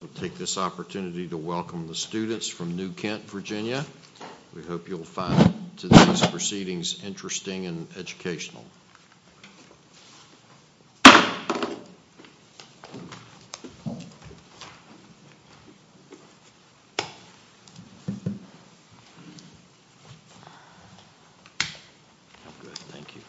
We'll take this opportunity to welcome the students from New Kent, Virginia. We hope you'll find today's proceedings interesting and educational. Thank you.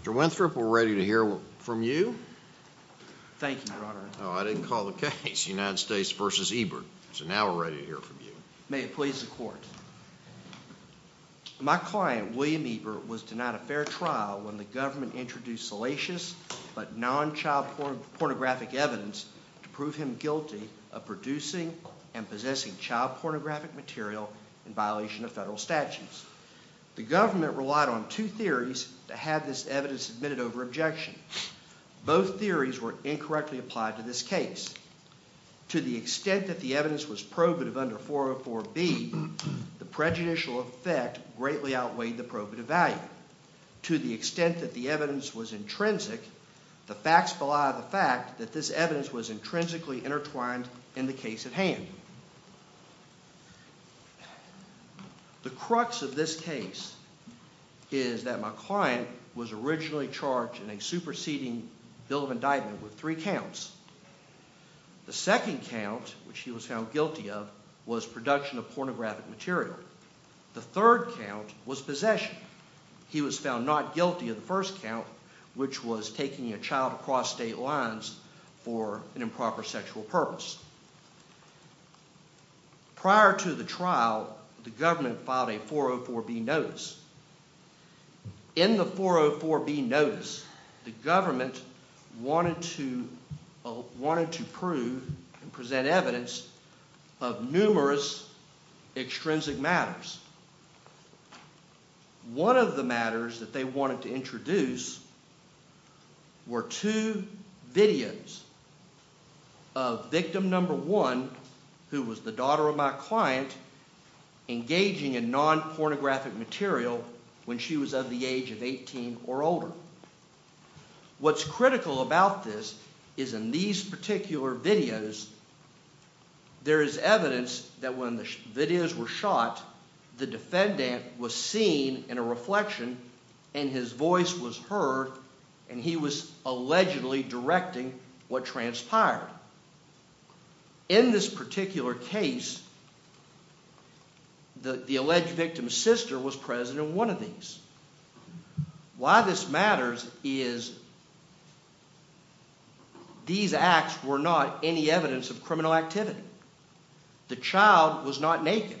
Mr. Winthrop, we're ready to hear from you. Thank you, Your Honor. I didn't call the case United States v. Ebert, so now we're ready to hear from you. May it please the Court. My client, William Ebert, was denied a fair trial when the government introduced salacious but non-child pornographic evidence to prove him guilty of producing and possessing child pornographic material in violation of federal statutes. The government relied on two theories to have this evidence admitted over objection. Both theories were incorrectly applied to this case. To the extent that the evidence was probative under 404B, the prejudicial effect greatly outweighed the probative value. To the extent that the evidence was intrinsic, the facts fall out of the fact that this evidence was intrinsically intertwined in the case at hand. The crux of this case is that my client was originally charged in a superseding bill of indictment with three counts. The second count, which he was found guilty of, was production of pornographic material. The third count was possession. He was found not guilty of the first count, which was taking a child across state lines for an improper sexual purpose. Prior to the trial, the government filed a 404B notice. In the 404B notice, the government wanted to prove and present evidence of numerous extrinsic matters. One of the matters that they wanted to introduce were two videos of victim number one, who was the daughter of my client, engaging in non-pornographic material when she was of the age of 18 or older. What's critical about this is in these particular videos, there is evidence that when the videos were shot, the defendant was seen in a reflection and his voice was heard, and he was allegedly directing what transpired. In this particular case, the alleged victim's sister was present in one of these. Why this matters is these acts were not any evidence of criminal activity. The child was not naked.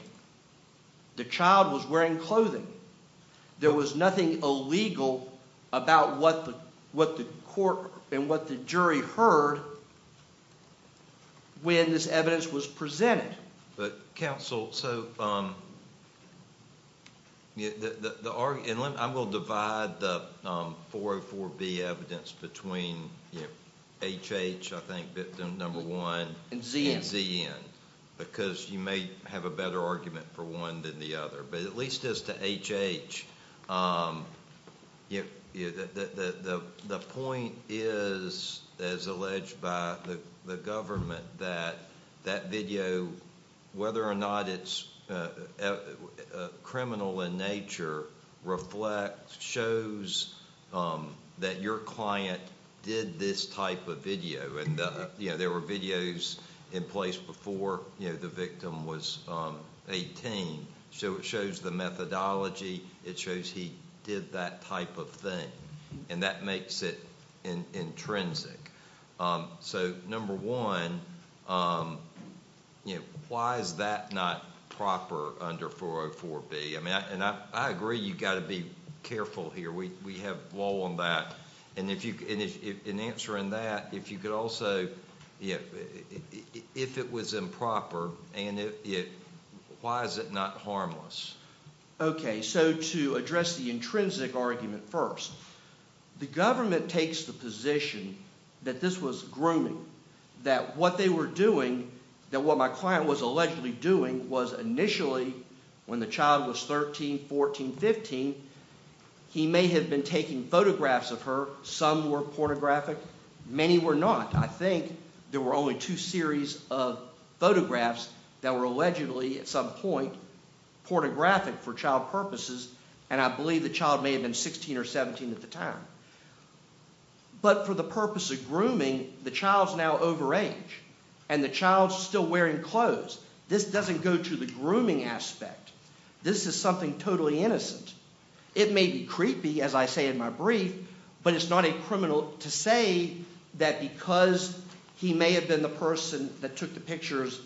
The child was wearing clothing. There was nothing illegal about what the court and what the jury heard when this evidence was presented. Counsel, I will divide the 404B evidence between HH, I think, victim number one, and ZN, because you may have a better argument for one than the other, but at least as to HH, the point is, as alleged by the government, that that video, whether or not it's criminal in nature, shows that your client did this type of video. There were videos in place before the victim was 18, so it shows the methodology. It shows he did that type of thing. That makes it intrinsic. Number one, why is that not proper under 404B? I agree you've got to be careful here. We have law on that. In answering that, if it was improper, why is it not harmless? Okay, so to address the intrinsic argument first, the government takes the position that this was grooming, that what they were doing, that what my client was allegedly doing, was initially, when the child was 13, 14, 15, he may have been taking photographs of her. Some were pornographic. Many were not. I think there were only two series of photographs that were allegedly, at some point, pornographic for child purposes, and I believe the child may have been 16 or 17 at the time. But for the purpose of grooming, the child's now over age, and the child's still wearing clothes. This doesn't go to the grooming aspect. This is something totally innocent. It may be creepy, as I say in my brief, but it's not a criminal to say that because he may have been the person that took the pictures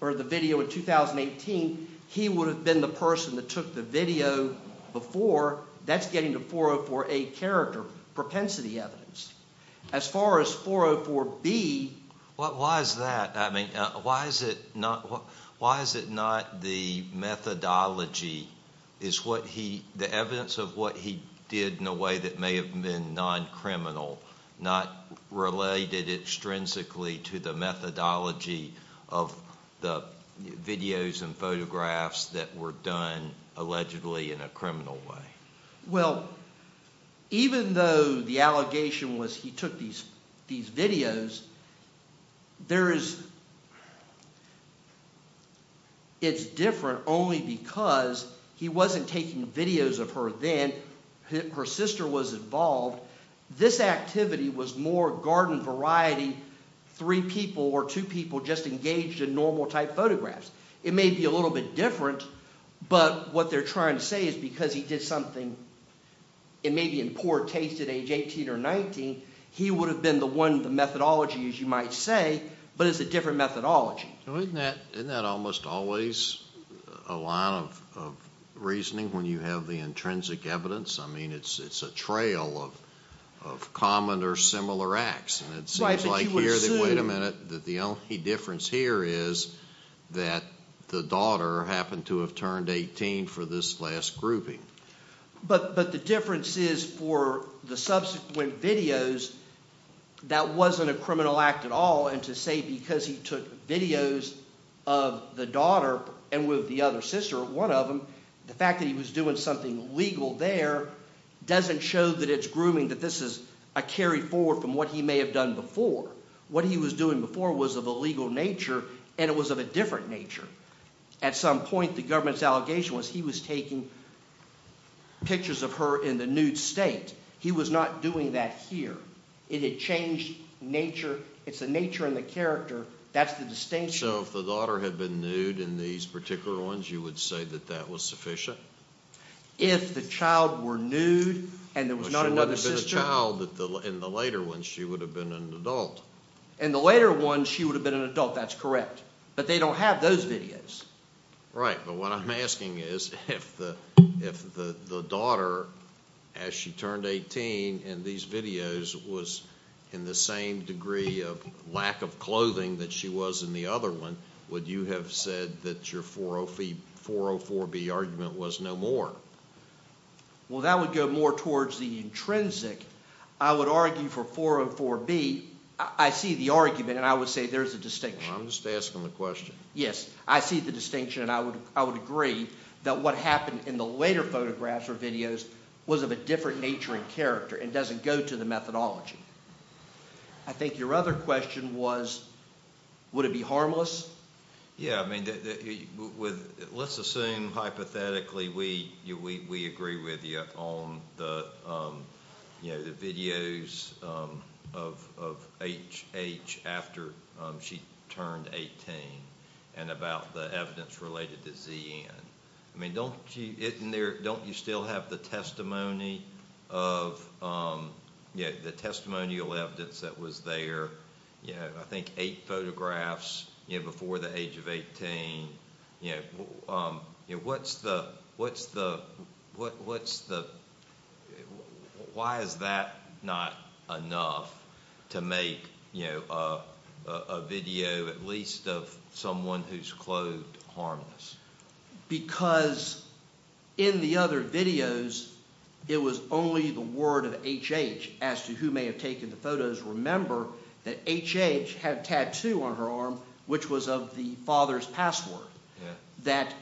or the video in 2018, he would have been the person that took the video before. That's getting the 404A character propensity evidence. As far as 404B… Why is that? I mean, why is it not the methodology? Is the evidence of what he did in a way that may have been non-criminal not related intrinsically to the methodology of the videos and photographs that were done allegedly in a criminal way? Well, even though the allegation was he took these videos, it's different only because he wasn't taking videos of her then. Her sister was involved. This activity was more garden variety, three people or two people just engaged in normal type photographs. It may be a little bit different, but what they're trying to say is because he did something and may be in poor taste at age 18 or 19, he would have been the one, the methodology as you might say, but it's a different methodology. Isn't that almost always a line of reasoning when you have the intrinsic evidence? I mean, it's a trail of common or similar acts. Wait a minute. The only difference here is that the daughter happened to have turned 18 for this last grouping. But the difference is for the subsequent videos, that wasn't a criminal act at all, and to say because he took videos of the daughter and with the other sister, one of them, the fact that he was doing something legal there doesn't show that it's grooming, that this is a carry forward from what he may have done before. What he was doing before was of a legal nature, and it was of a different nature. At some point, the government's allegation was he was taking pictures of her in the nude state. He was not doing that here. It had changed nature. It's the nature and the character. That's the distinction. So if the daughter had been nude in these particular ones, you would say that that was sufficient? If the child were nude and there was not another sister? But she would have been a child in the later ones. She would have been an adult. In the later ones, she would have been an adult. That's correct. But they don't have those videos. Right. But what I'm asking is if the daughter, as she turned 18, in these videos, was in the same degree of lack of clothing that she was in the other one, would you have said that your 404B argument was no more? Well, that would go more towards the intrinsic. I would argue for 404B. I see the argument, and I would say there's a distinction. I'm just asking the question. Yes. I see the distinction, and I would agree that what happened in the later photographs or videos was of a different nature and character and doesn't go to the methodology. I think your other question was, would it be harmless? Yes. I mean, let's assume hypothetically we agree with you on the videos of HH after she turned 18 and about the evidence related to ZN. I mean, don't you still have the testimonial evidence that was there? I think eight photographs before the age of 18. Why is that not enough to make a video at least of someone who's clothed harmless? Because in the other videos, it was only the word of HH as to who may have taken the photos. Remember that HH had a tattoo on her arm which was of the father's password. That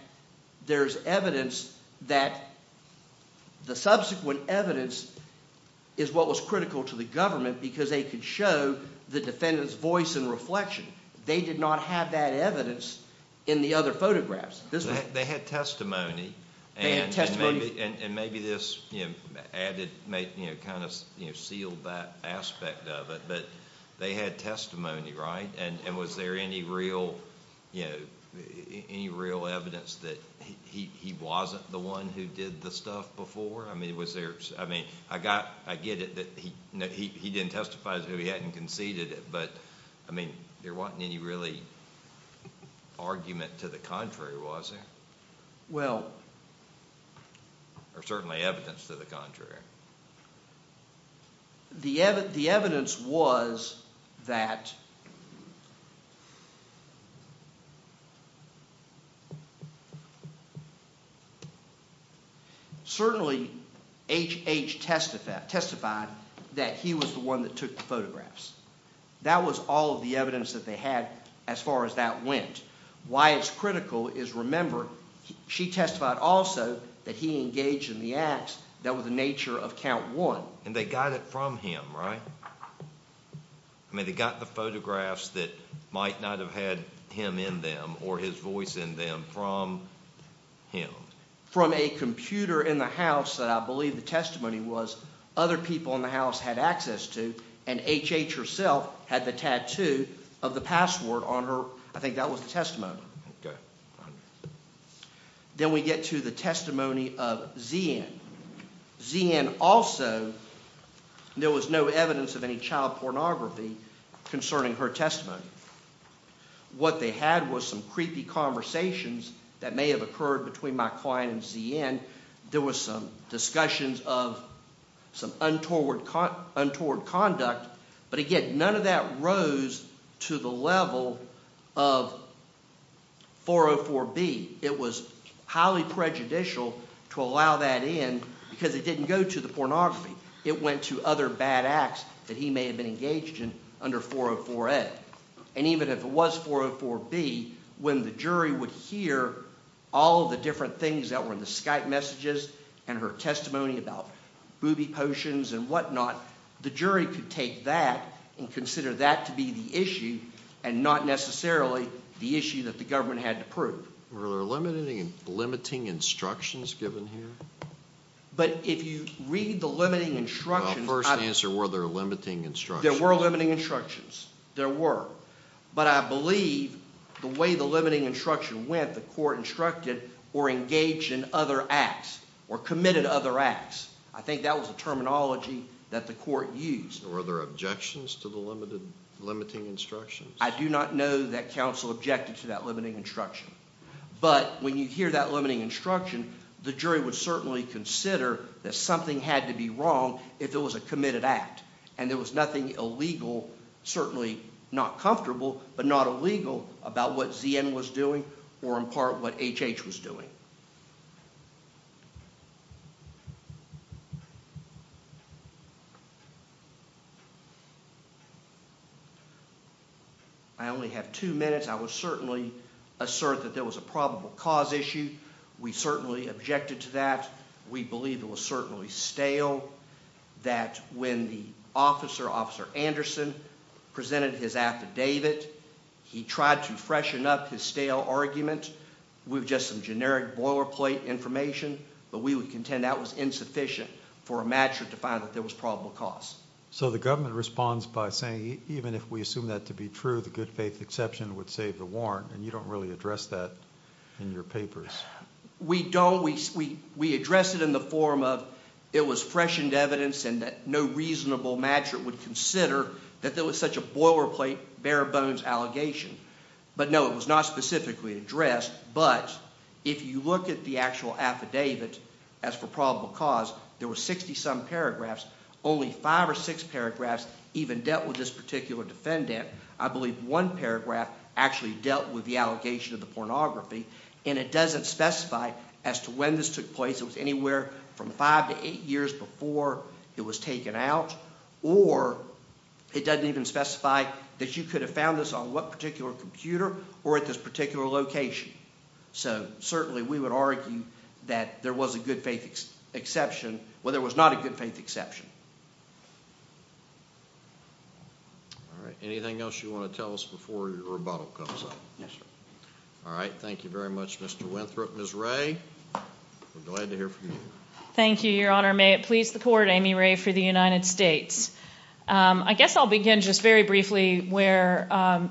there's evidence that the subsequent evidence is what was critical to the government because they could show the defendant's voice and reflection. They did not have that evidence in the other photographs. They had testimony and maybe this sealed that aspect of it, but they had testimony, right? And was there any real evidence that he wasn't the one who did the stuff before? I mean, I get it that he didn't testify as though he hadn't conceded it, but there wasn't any really argument to the contrary, was there? Well... Or certainly evidence to the contrary. The evidence was that... Certainly, HH testified that he was the one that took the photographs. That was all of the evidence that they had as far as that went. Why it's critical is, remember, she testified also that he engaged in the acts that were the nature of count one. And they got it from him, right? I mean, they got the photographs that might not have had him in them or his voice in them from him. From a computer in the house that I believe the testimony was other people in the house had access to and HH herself had the tattoo of the password on her – I think that was the testimony. Then we get to the testimony of ZN. ZN also – there was no evidence of any child pornography concerning her testimony. What they had was some creepy conversations that may have occurred between my client and ZN. There was some discussions of some untoward conduct. But again, none of that rose to the level of 404B. It was highly prejudicial to allow that in because it didn't go to the pornography. It went to other bad acts that he may have been engaged in under 404A. And even if it was 404B, when the jury would hear all of the different things that were in the Skype messages and her testimony about booby potions and whatnot, the jury could take that and consider that to be the issue and not necessarily the issue that the government had to prove. Were there limiting instructions given here? But if you read the limiting instructions – First answer, were there limiting instructions? There were limiting instructions. There were. But I believe the way the limiting instruction went, the court instructed or engaged in other acts or committed other acts. I think that was the terminology that the court used. Were there objections to the limiting instructions? I do not know that counsel objected to that limiting instruction. But when you hear that limiting instruction, the jury would certainly consider that something had to be wrong if it was a committed act. And there was nothing illegal, certainly not comfortable, but not illegal about what ZN was doing or in part what HH was doing. I only have two minutes. I would certainly assert that there was a probable cause issue. We certainly objected to that. We believe it was certainly stale. We know that when the officer, Officer Anderson, presented his affidavit, he tried to freshen up his stale argument with just some generic boilerplate information. But we would contend that was insufficient for a matcher to find that there was probable cause. So the government responds by saying even if we assume that to be true, the good faith exception would save the warrant. And you don't really address that in your papers. We don't. We address it in the form of it was freshened evidence and that no reasonable matcher would consider that there was such a boilerplate, bare-bones allegation. But no, it was not specifically addressed. But if you look at the actual affidavit as for probable cause, there were 60-some paragraphs. Only five or six paragraphs even dealt with this particular defendant. I believe one paragraph actually dealt with the allegation of the pornography. And it doesn't specify as to when this took place. It was anywhere from five to eight years before it was taken out. Or it doesn't even specify that you could have found this on what particular computer or at this particular location. So certainly we would argue that there was a good faith exception. Well, there was not a good faith exception. All right. Anything else you want to tell us before your rebuttal comes up? Yes, sir. All right. Thank you very much, Mr. Winthrop. Ms. Ray, we're glad to hear from you. Thank you, Your Honor. May it please the Court, Amy Ray for the United States. I guess I'll begin just very briefly where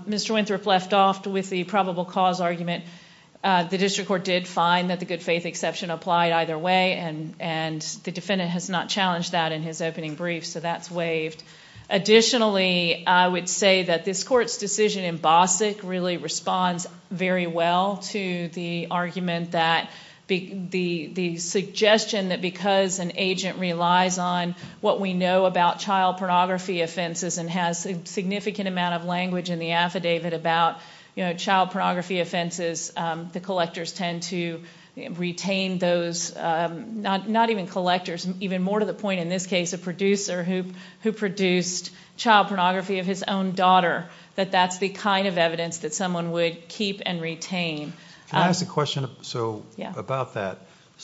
Mr. Winthrop left off with the probable cause argument. The district court did find that the good faith exception applied either way, and the defendant has not challenged that in his opening brief, so that's waived. Additionally, I would say that this Court's decision in BOSIC really responds very well to the argument that the suggestion that because an agent relies on what we know about child pornography offenses and has a significant amount of language in the affidavit about child pornography offenses, the collectors tend to retain those, not even collectors, even more to the point in this case a producer who produced child pornography of his own daughter, that that's the kind of evidence that someone would keep and retain. Can I ask a question about that?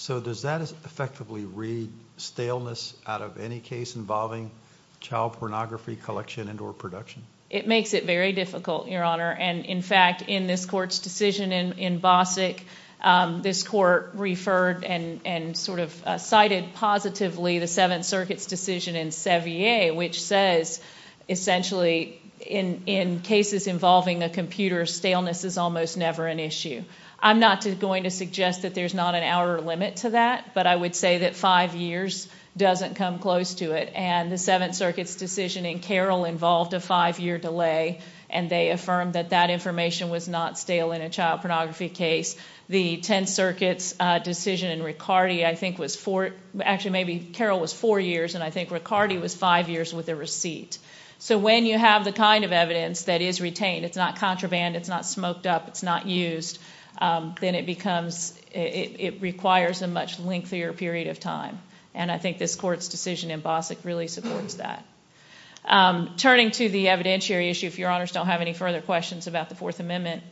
Does that effectively read staleness out of any case involving child pornography collection and or production? It makes it very difficult, Your Honor. In fact, in this Court's decision in BOSIC, this Court referred and cited positively the Seventh Circuit's decision in Sevier, which says essentially in cases involving a computer, staleness is almost never an issue. I'm not going to suggest that there's not an outer limit to that, but I would say that five years doesn't come close to it. The Seventh Circuit's decision in Carroll involved a five-year delay, and they affirmed that that information was not stale in a child pornography case. The Tenth Circuit's decision in Riccardi, I think, was four—actually, maybe Carroll was four years, and I think Riccardi was five years with a receipt. When you have the kind of evidence that is retained, it's not contraband, it's not smoked up, it's not used, then it requires a much lengthier period of time, and I think this Court's decision in BOSIC really supports that. Turning to the evidentiary issue, if Your Honors don't have any further questions about the Fourth Amendment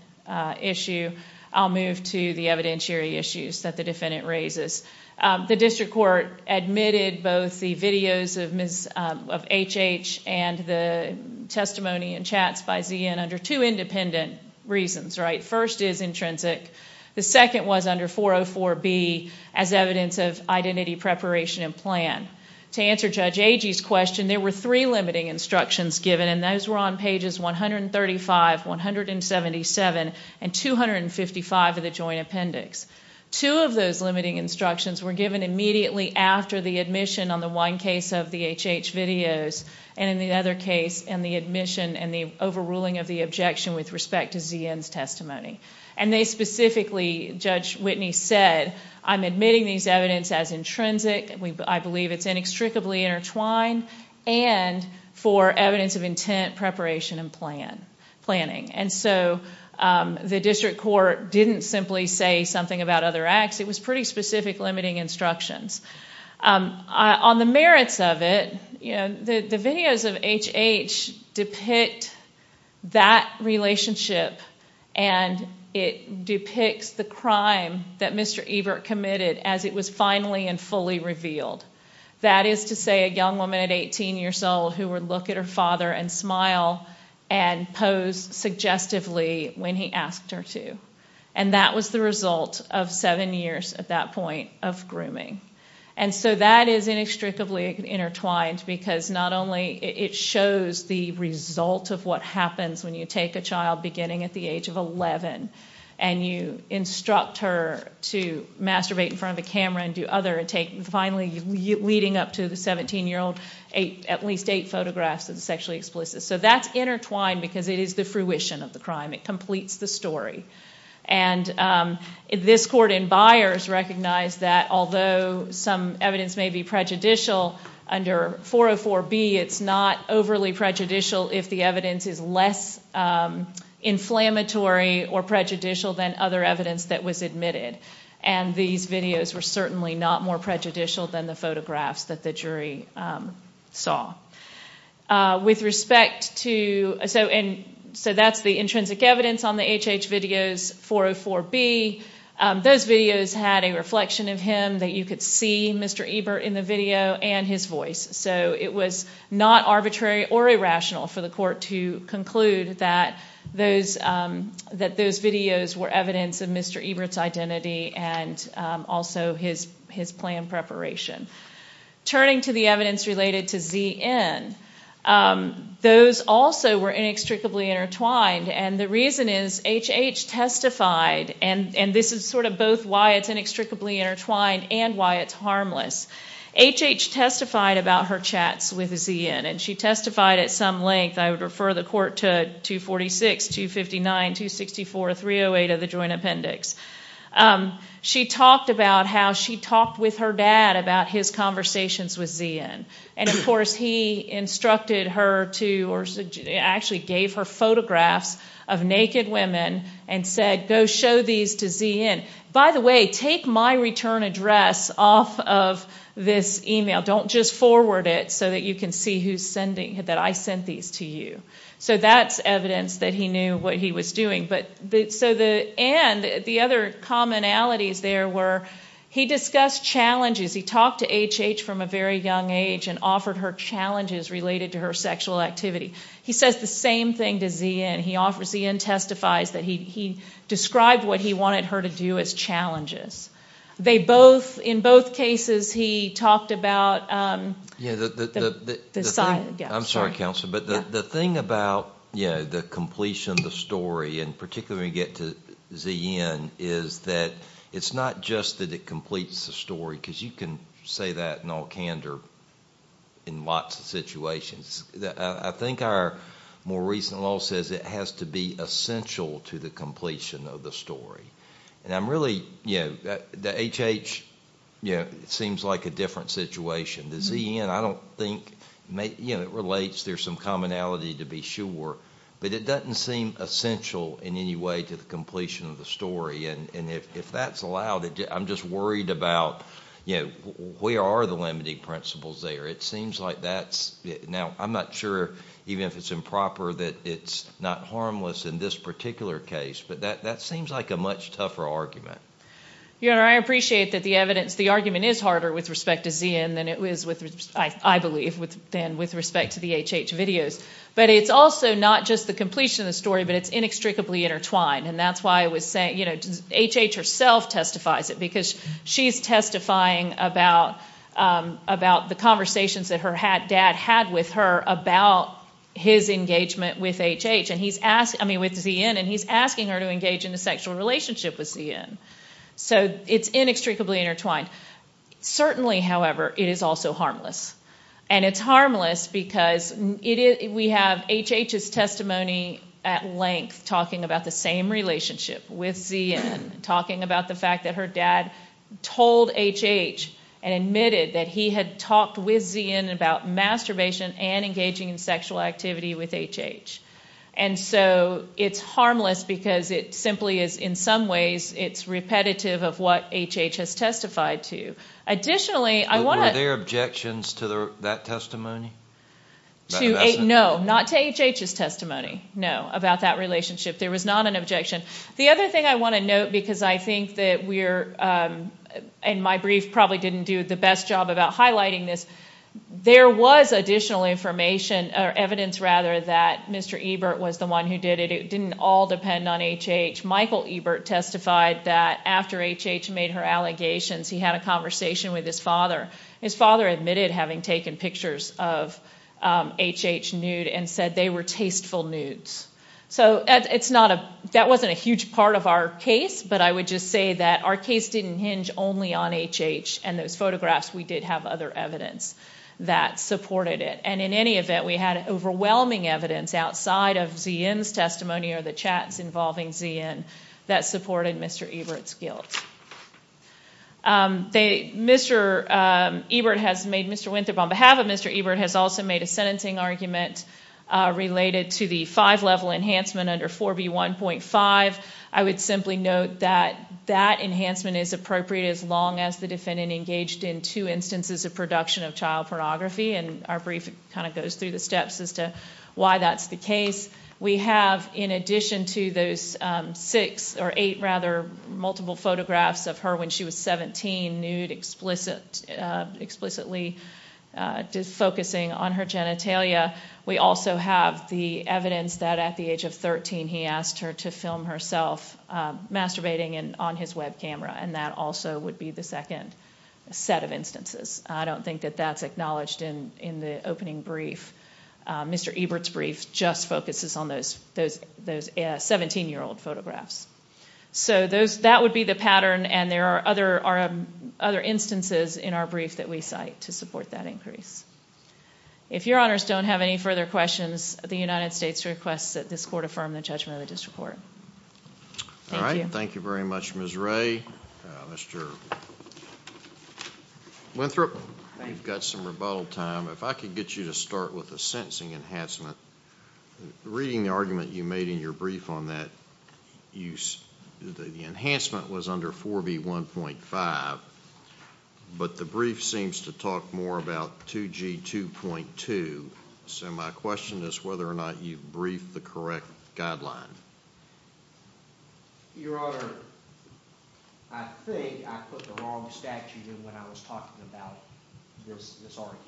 issue, I'll move to the evidentiary issues that the defendant raises. The district court admitted both the videos of H.H. and the testimony and chats by Z.N. under two independent reasons. First is intrinsic. The second was under 404B as evidence of identity preparation and plan. To answer Judge Agee's question, there were three limiting instructions given, and those were on pages 135, 177, and 255 of the joint appendix. Two of those limiting instructions were given immediately after the admission on the one case of the H.H. videos and the other case and the admission and the overruling of the objection with respect to Z.N.'s testimony. They specifically, Judge Whitney said, I'm admitting these evidence as intrinsic, I believe it's inextricably intertwined, and for evidence of intent, preparation, and planning. The district court didn't simply say something about other acts, it was pretty specific limiting instructions. On the merits of it, the videos of H.H. depict that relationship, and it depicts the crime that Mr. Ebert committed as it was finally and fully revealed. That is to say, a young woman at 18 years old who would look at her father and smile and pose suggestively when he asked her to. That was the result of seven years, at that point, of grooming. That is inextricably intertwined because not only it shows the result of what happens when you take a child beginning at the age of 11, and you instruct her to masturbate in front of a camera and do other, finally leading up to the 17-year-old, at least eight photographs of the sexually explicit. That's intertwined because it is the fruition of the crime. It completes the story. This court in Byers recognized that although some evidence may be prejudicial under 404B, it's not overly prejudicial if the evidence is less inflammatory or prejudicial than other evidence that was admitted. These videos were certainly not more prejudicial than the photographs that the jury saw. That's the intrinsic evidence on the HH videos, 404B. Those videos had a reflection of him that you could see Mr. Ebert in the video and his voice. It was not arbitrary or irrational for the court to conclude that those videos were evidence of Mr. Ebert's identity and also his plan preparation. Turning to the evidence related to ZN, those also were inextricably intertwined. The reason is HH testified, and this is both why it's inextricably intertwined and why it's harmless. HH testified about her chats with ZN. She testified at some length. I would refer the court to 246, 259, 264, 308 of the Joint Appendix. She talked about how she talked with her dad about his conversations with ZN. Of course, he instructed her to or actually gave her photographs of naked women and said, go show these to ZN. By the way, take my return address off of this email. Don't just forward it so that you can see that I sent these to you. That's evidence that he knew what he was doing. The other commonalities there were he discussed challenges. He talked to HH from a very young age and offered her challenges related to her sexual activity. He says the same thing to ZN. ZN testifies that he described what he wanted her to do as challenges. In both cases, he talked about the sign. One thing I particularly get to ZN is that it's not just that it completes the story, because you can say that in all candor in lots of situations. I think our more recent law says it has to be essential to the completion of the story. The HH seems like a different situation. The ZN, I don't think it relates. There's some commonality to be sure. But it doesn't seem essential in any way to the completion of the story. If that's allowed, I'm just worried about where are the limiting principles there. It seems like that's, now I'm not sure, even if it's improper, that it's not harmless in this particular case. But that seems like a much tougher argument. Your Honor, I appreciate that the argument is harder with respect to ZN than it is, I believe, with respect to the HH videos. But it's also not just the completion of the story, but it's inextricably intertwined. And that's why I was saying, HH herself testifies it, because she's testifying about the conversations that her dad had with her about his engagement with ZN, and he's asking her to engage in a sexual relationship with ZN. So it's inextricably intertwined. Certainly, however, it is also harmless. And it's harmless because we have HH's testimony at length talking about the same relationship with ZN, talking about the fact that her dad told HH and admitted that he had talked with ZN about masturbation and engaging in sexual activity with HH. And so it's harmless because it simply is, in some ways, it's repetitive of what HH has testified to. Were there objections to that testimony? No, not to HH's testimony, no, about that relationship. There was not an objection. The other thing I want to note, because I think that we're, and my brief probably didn't do the best job about highlighting this, there was additional evidence that Mr. Ebert was the one who did it. It didn't all depend on HH. Michael Ebert testified that after HH made her allegations, he had a conversation with his father. His father admitted having taken pictures of HH nude and said they were tasteful nudes. So that wasn't a huge part of our case, but I would just say that our case didn't hinge only on HH and those photographs. We did have other evidence that supported it. And in any event, we had overwhelming evidence outside of ZN's testimony or the chats involving ZN that supported Mr. Ebert's guilt. Mr. Ebert has made, Mr. Winthrop, on behalf of Mr. Ebert, has also made a sentencing argument related to the five-level enhancement under 4B1.5. I would simply note that that enhancement is appropriate as long as the defendant engaged in two instances of production of child pornography, and our brief kind of goes through the steps as to why that's the case. We have, in addition to those six or eight, rather, multiple photographs of her when she was 17, nude explicitly focusing on her genitalia, we also have the evidence that at the age of 13 he asked her to film herself masturbating on his web camera, and that also would be the second set of instances. I don't think that that's acknowledged in the opening brief. Mr. Ebert's brief just focuses on those 17-year-old photographs. So that would be the pattern, and there are other instances in our brief that we cite to support that increase. If Your Honors don't have any further questions, the United States requests that this court affirm the judgment of the district court. Thank you. All right, thank you very much, Ms. Ray. Mr. Winthrop, we've got some rebuttal time. If I could get you to start with the sentencing enhancement. Reading the argument you made in your brief on that, the enhancement was under 4B1.5, but the brief seems to talk more about 2G2.2, so my question is whether or not you've briefed the correct guideline. Your Honor, I think I put the wrong statute when I was talking about this argument.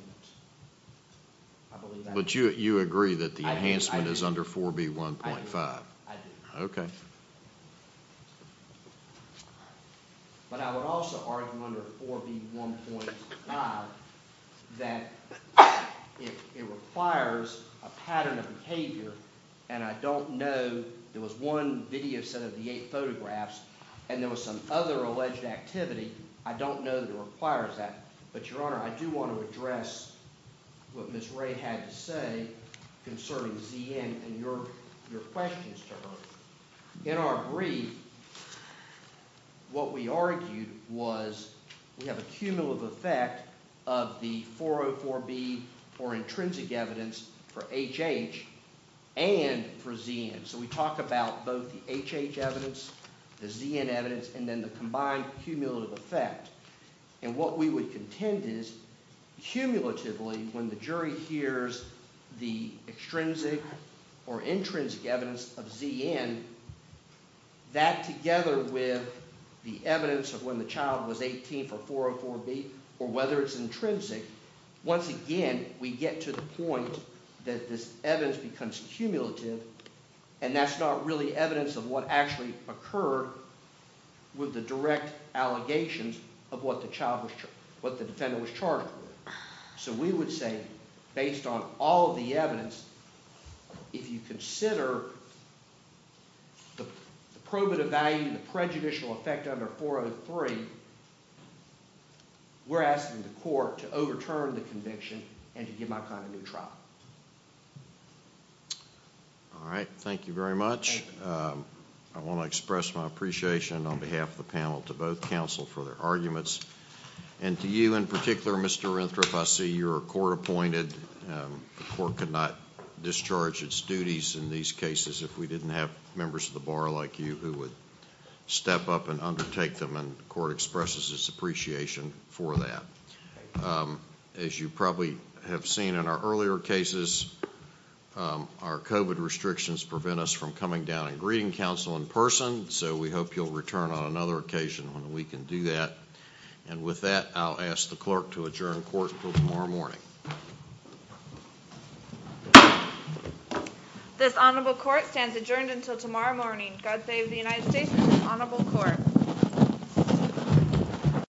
But you agree that the enhancement is under 4B1.5? I do. Okay. But I would also argue under 4B1.5 that it requires a pattern of behavior, and I don't know. There was one video set of the eight photographs, and there was some other alleged activity. I don't know that it requires that. But, Your Honor, I do want to address what Ms. Ray had to say concerning ZN and your questions to her. In our brief, what we argued was we have a cumulative effect of the 404B for intrinsic evidence for HH and for ZN. So we talk about both the HH evidence, the ZN evidence, and then the combined cumulative effect. And what we would contend is, cumulatively, when the jury hears the extrinsic or intrinsic evidence of ZN, that together with the evidence of when the child was 18 for 404B or whether it's intrinsic, once again, we get to the point that this evidence becomes cumulative, and that's not really evidence of what actually occurred with the direct allegations of what the defendant was charged with. So we would say, based on all the evidence, if you consider the probative value and the prejudicial effect under 403, we're asking the court to overturn the conviction and to give my client a new trial. All right. Thank you very much. I want to express my appreciation on behalf of the panel to both counsel for their arguments, and to you in particular, Mr. Renthrop. I see you were court-appointed. The court could not discharge its duties in these cases if we didn't have members of the bar like you who would step up and undertake them, and the court expresses its appreciation for that. As you probably have seen in our earlier cases, our COVID restrictions prevent us from coming down and greeting counsel in person, so we hope you'll return on another occasion when we can do that. And with that, I'll ask the clerk to adjourn court until tomorrow morning. This honorable court stands adjourned until tomorrow morning. God save the United States and this honorable court. Thank you.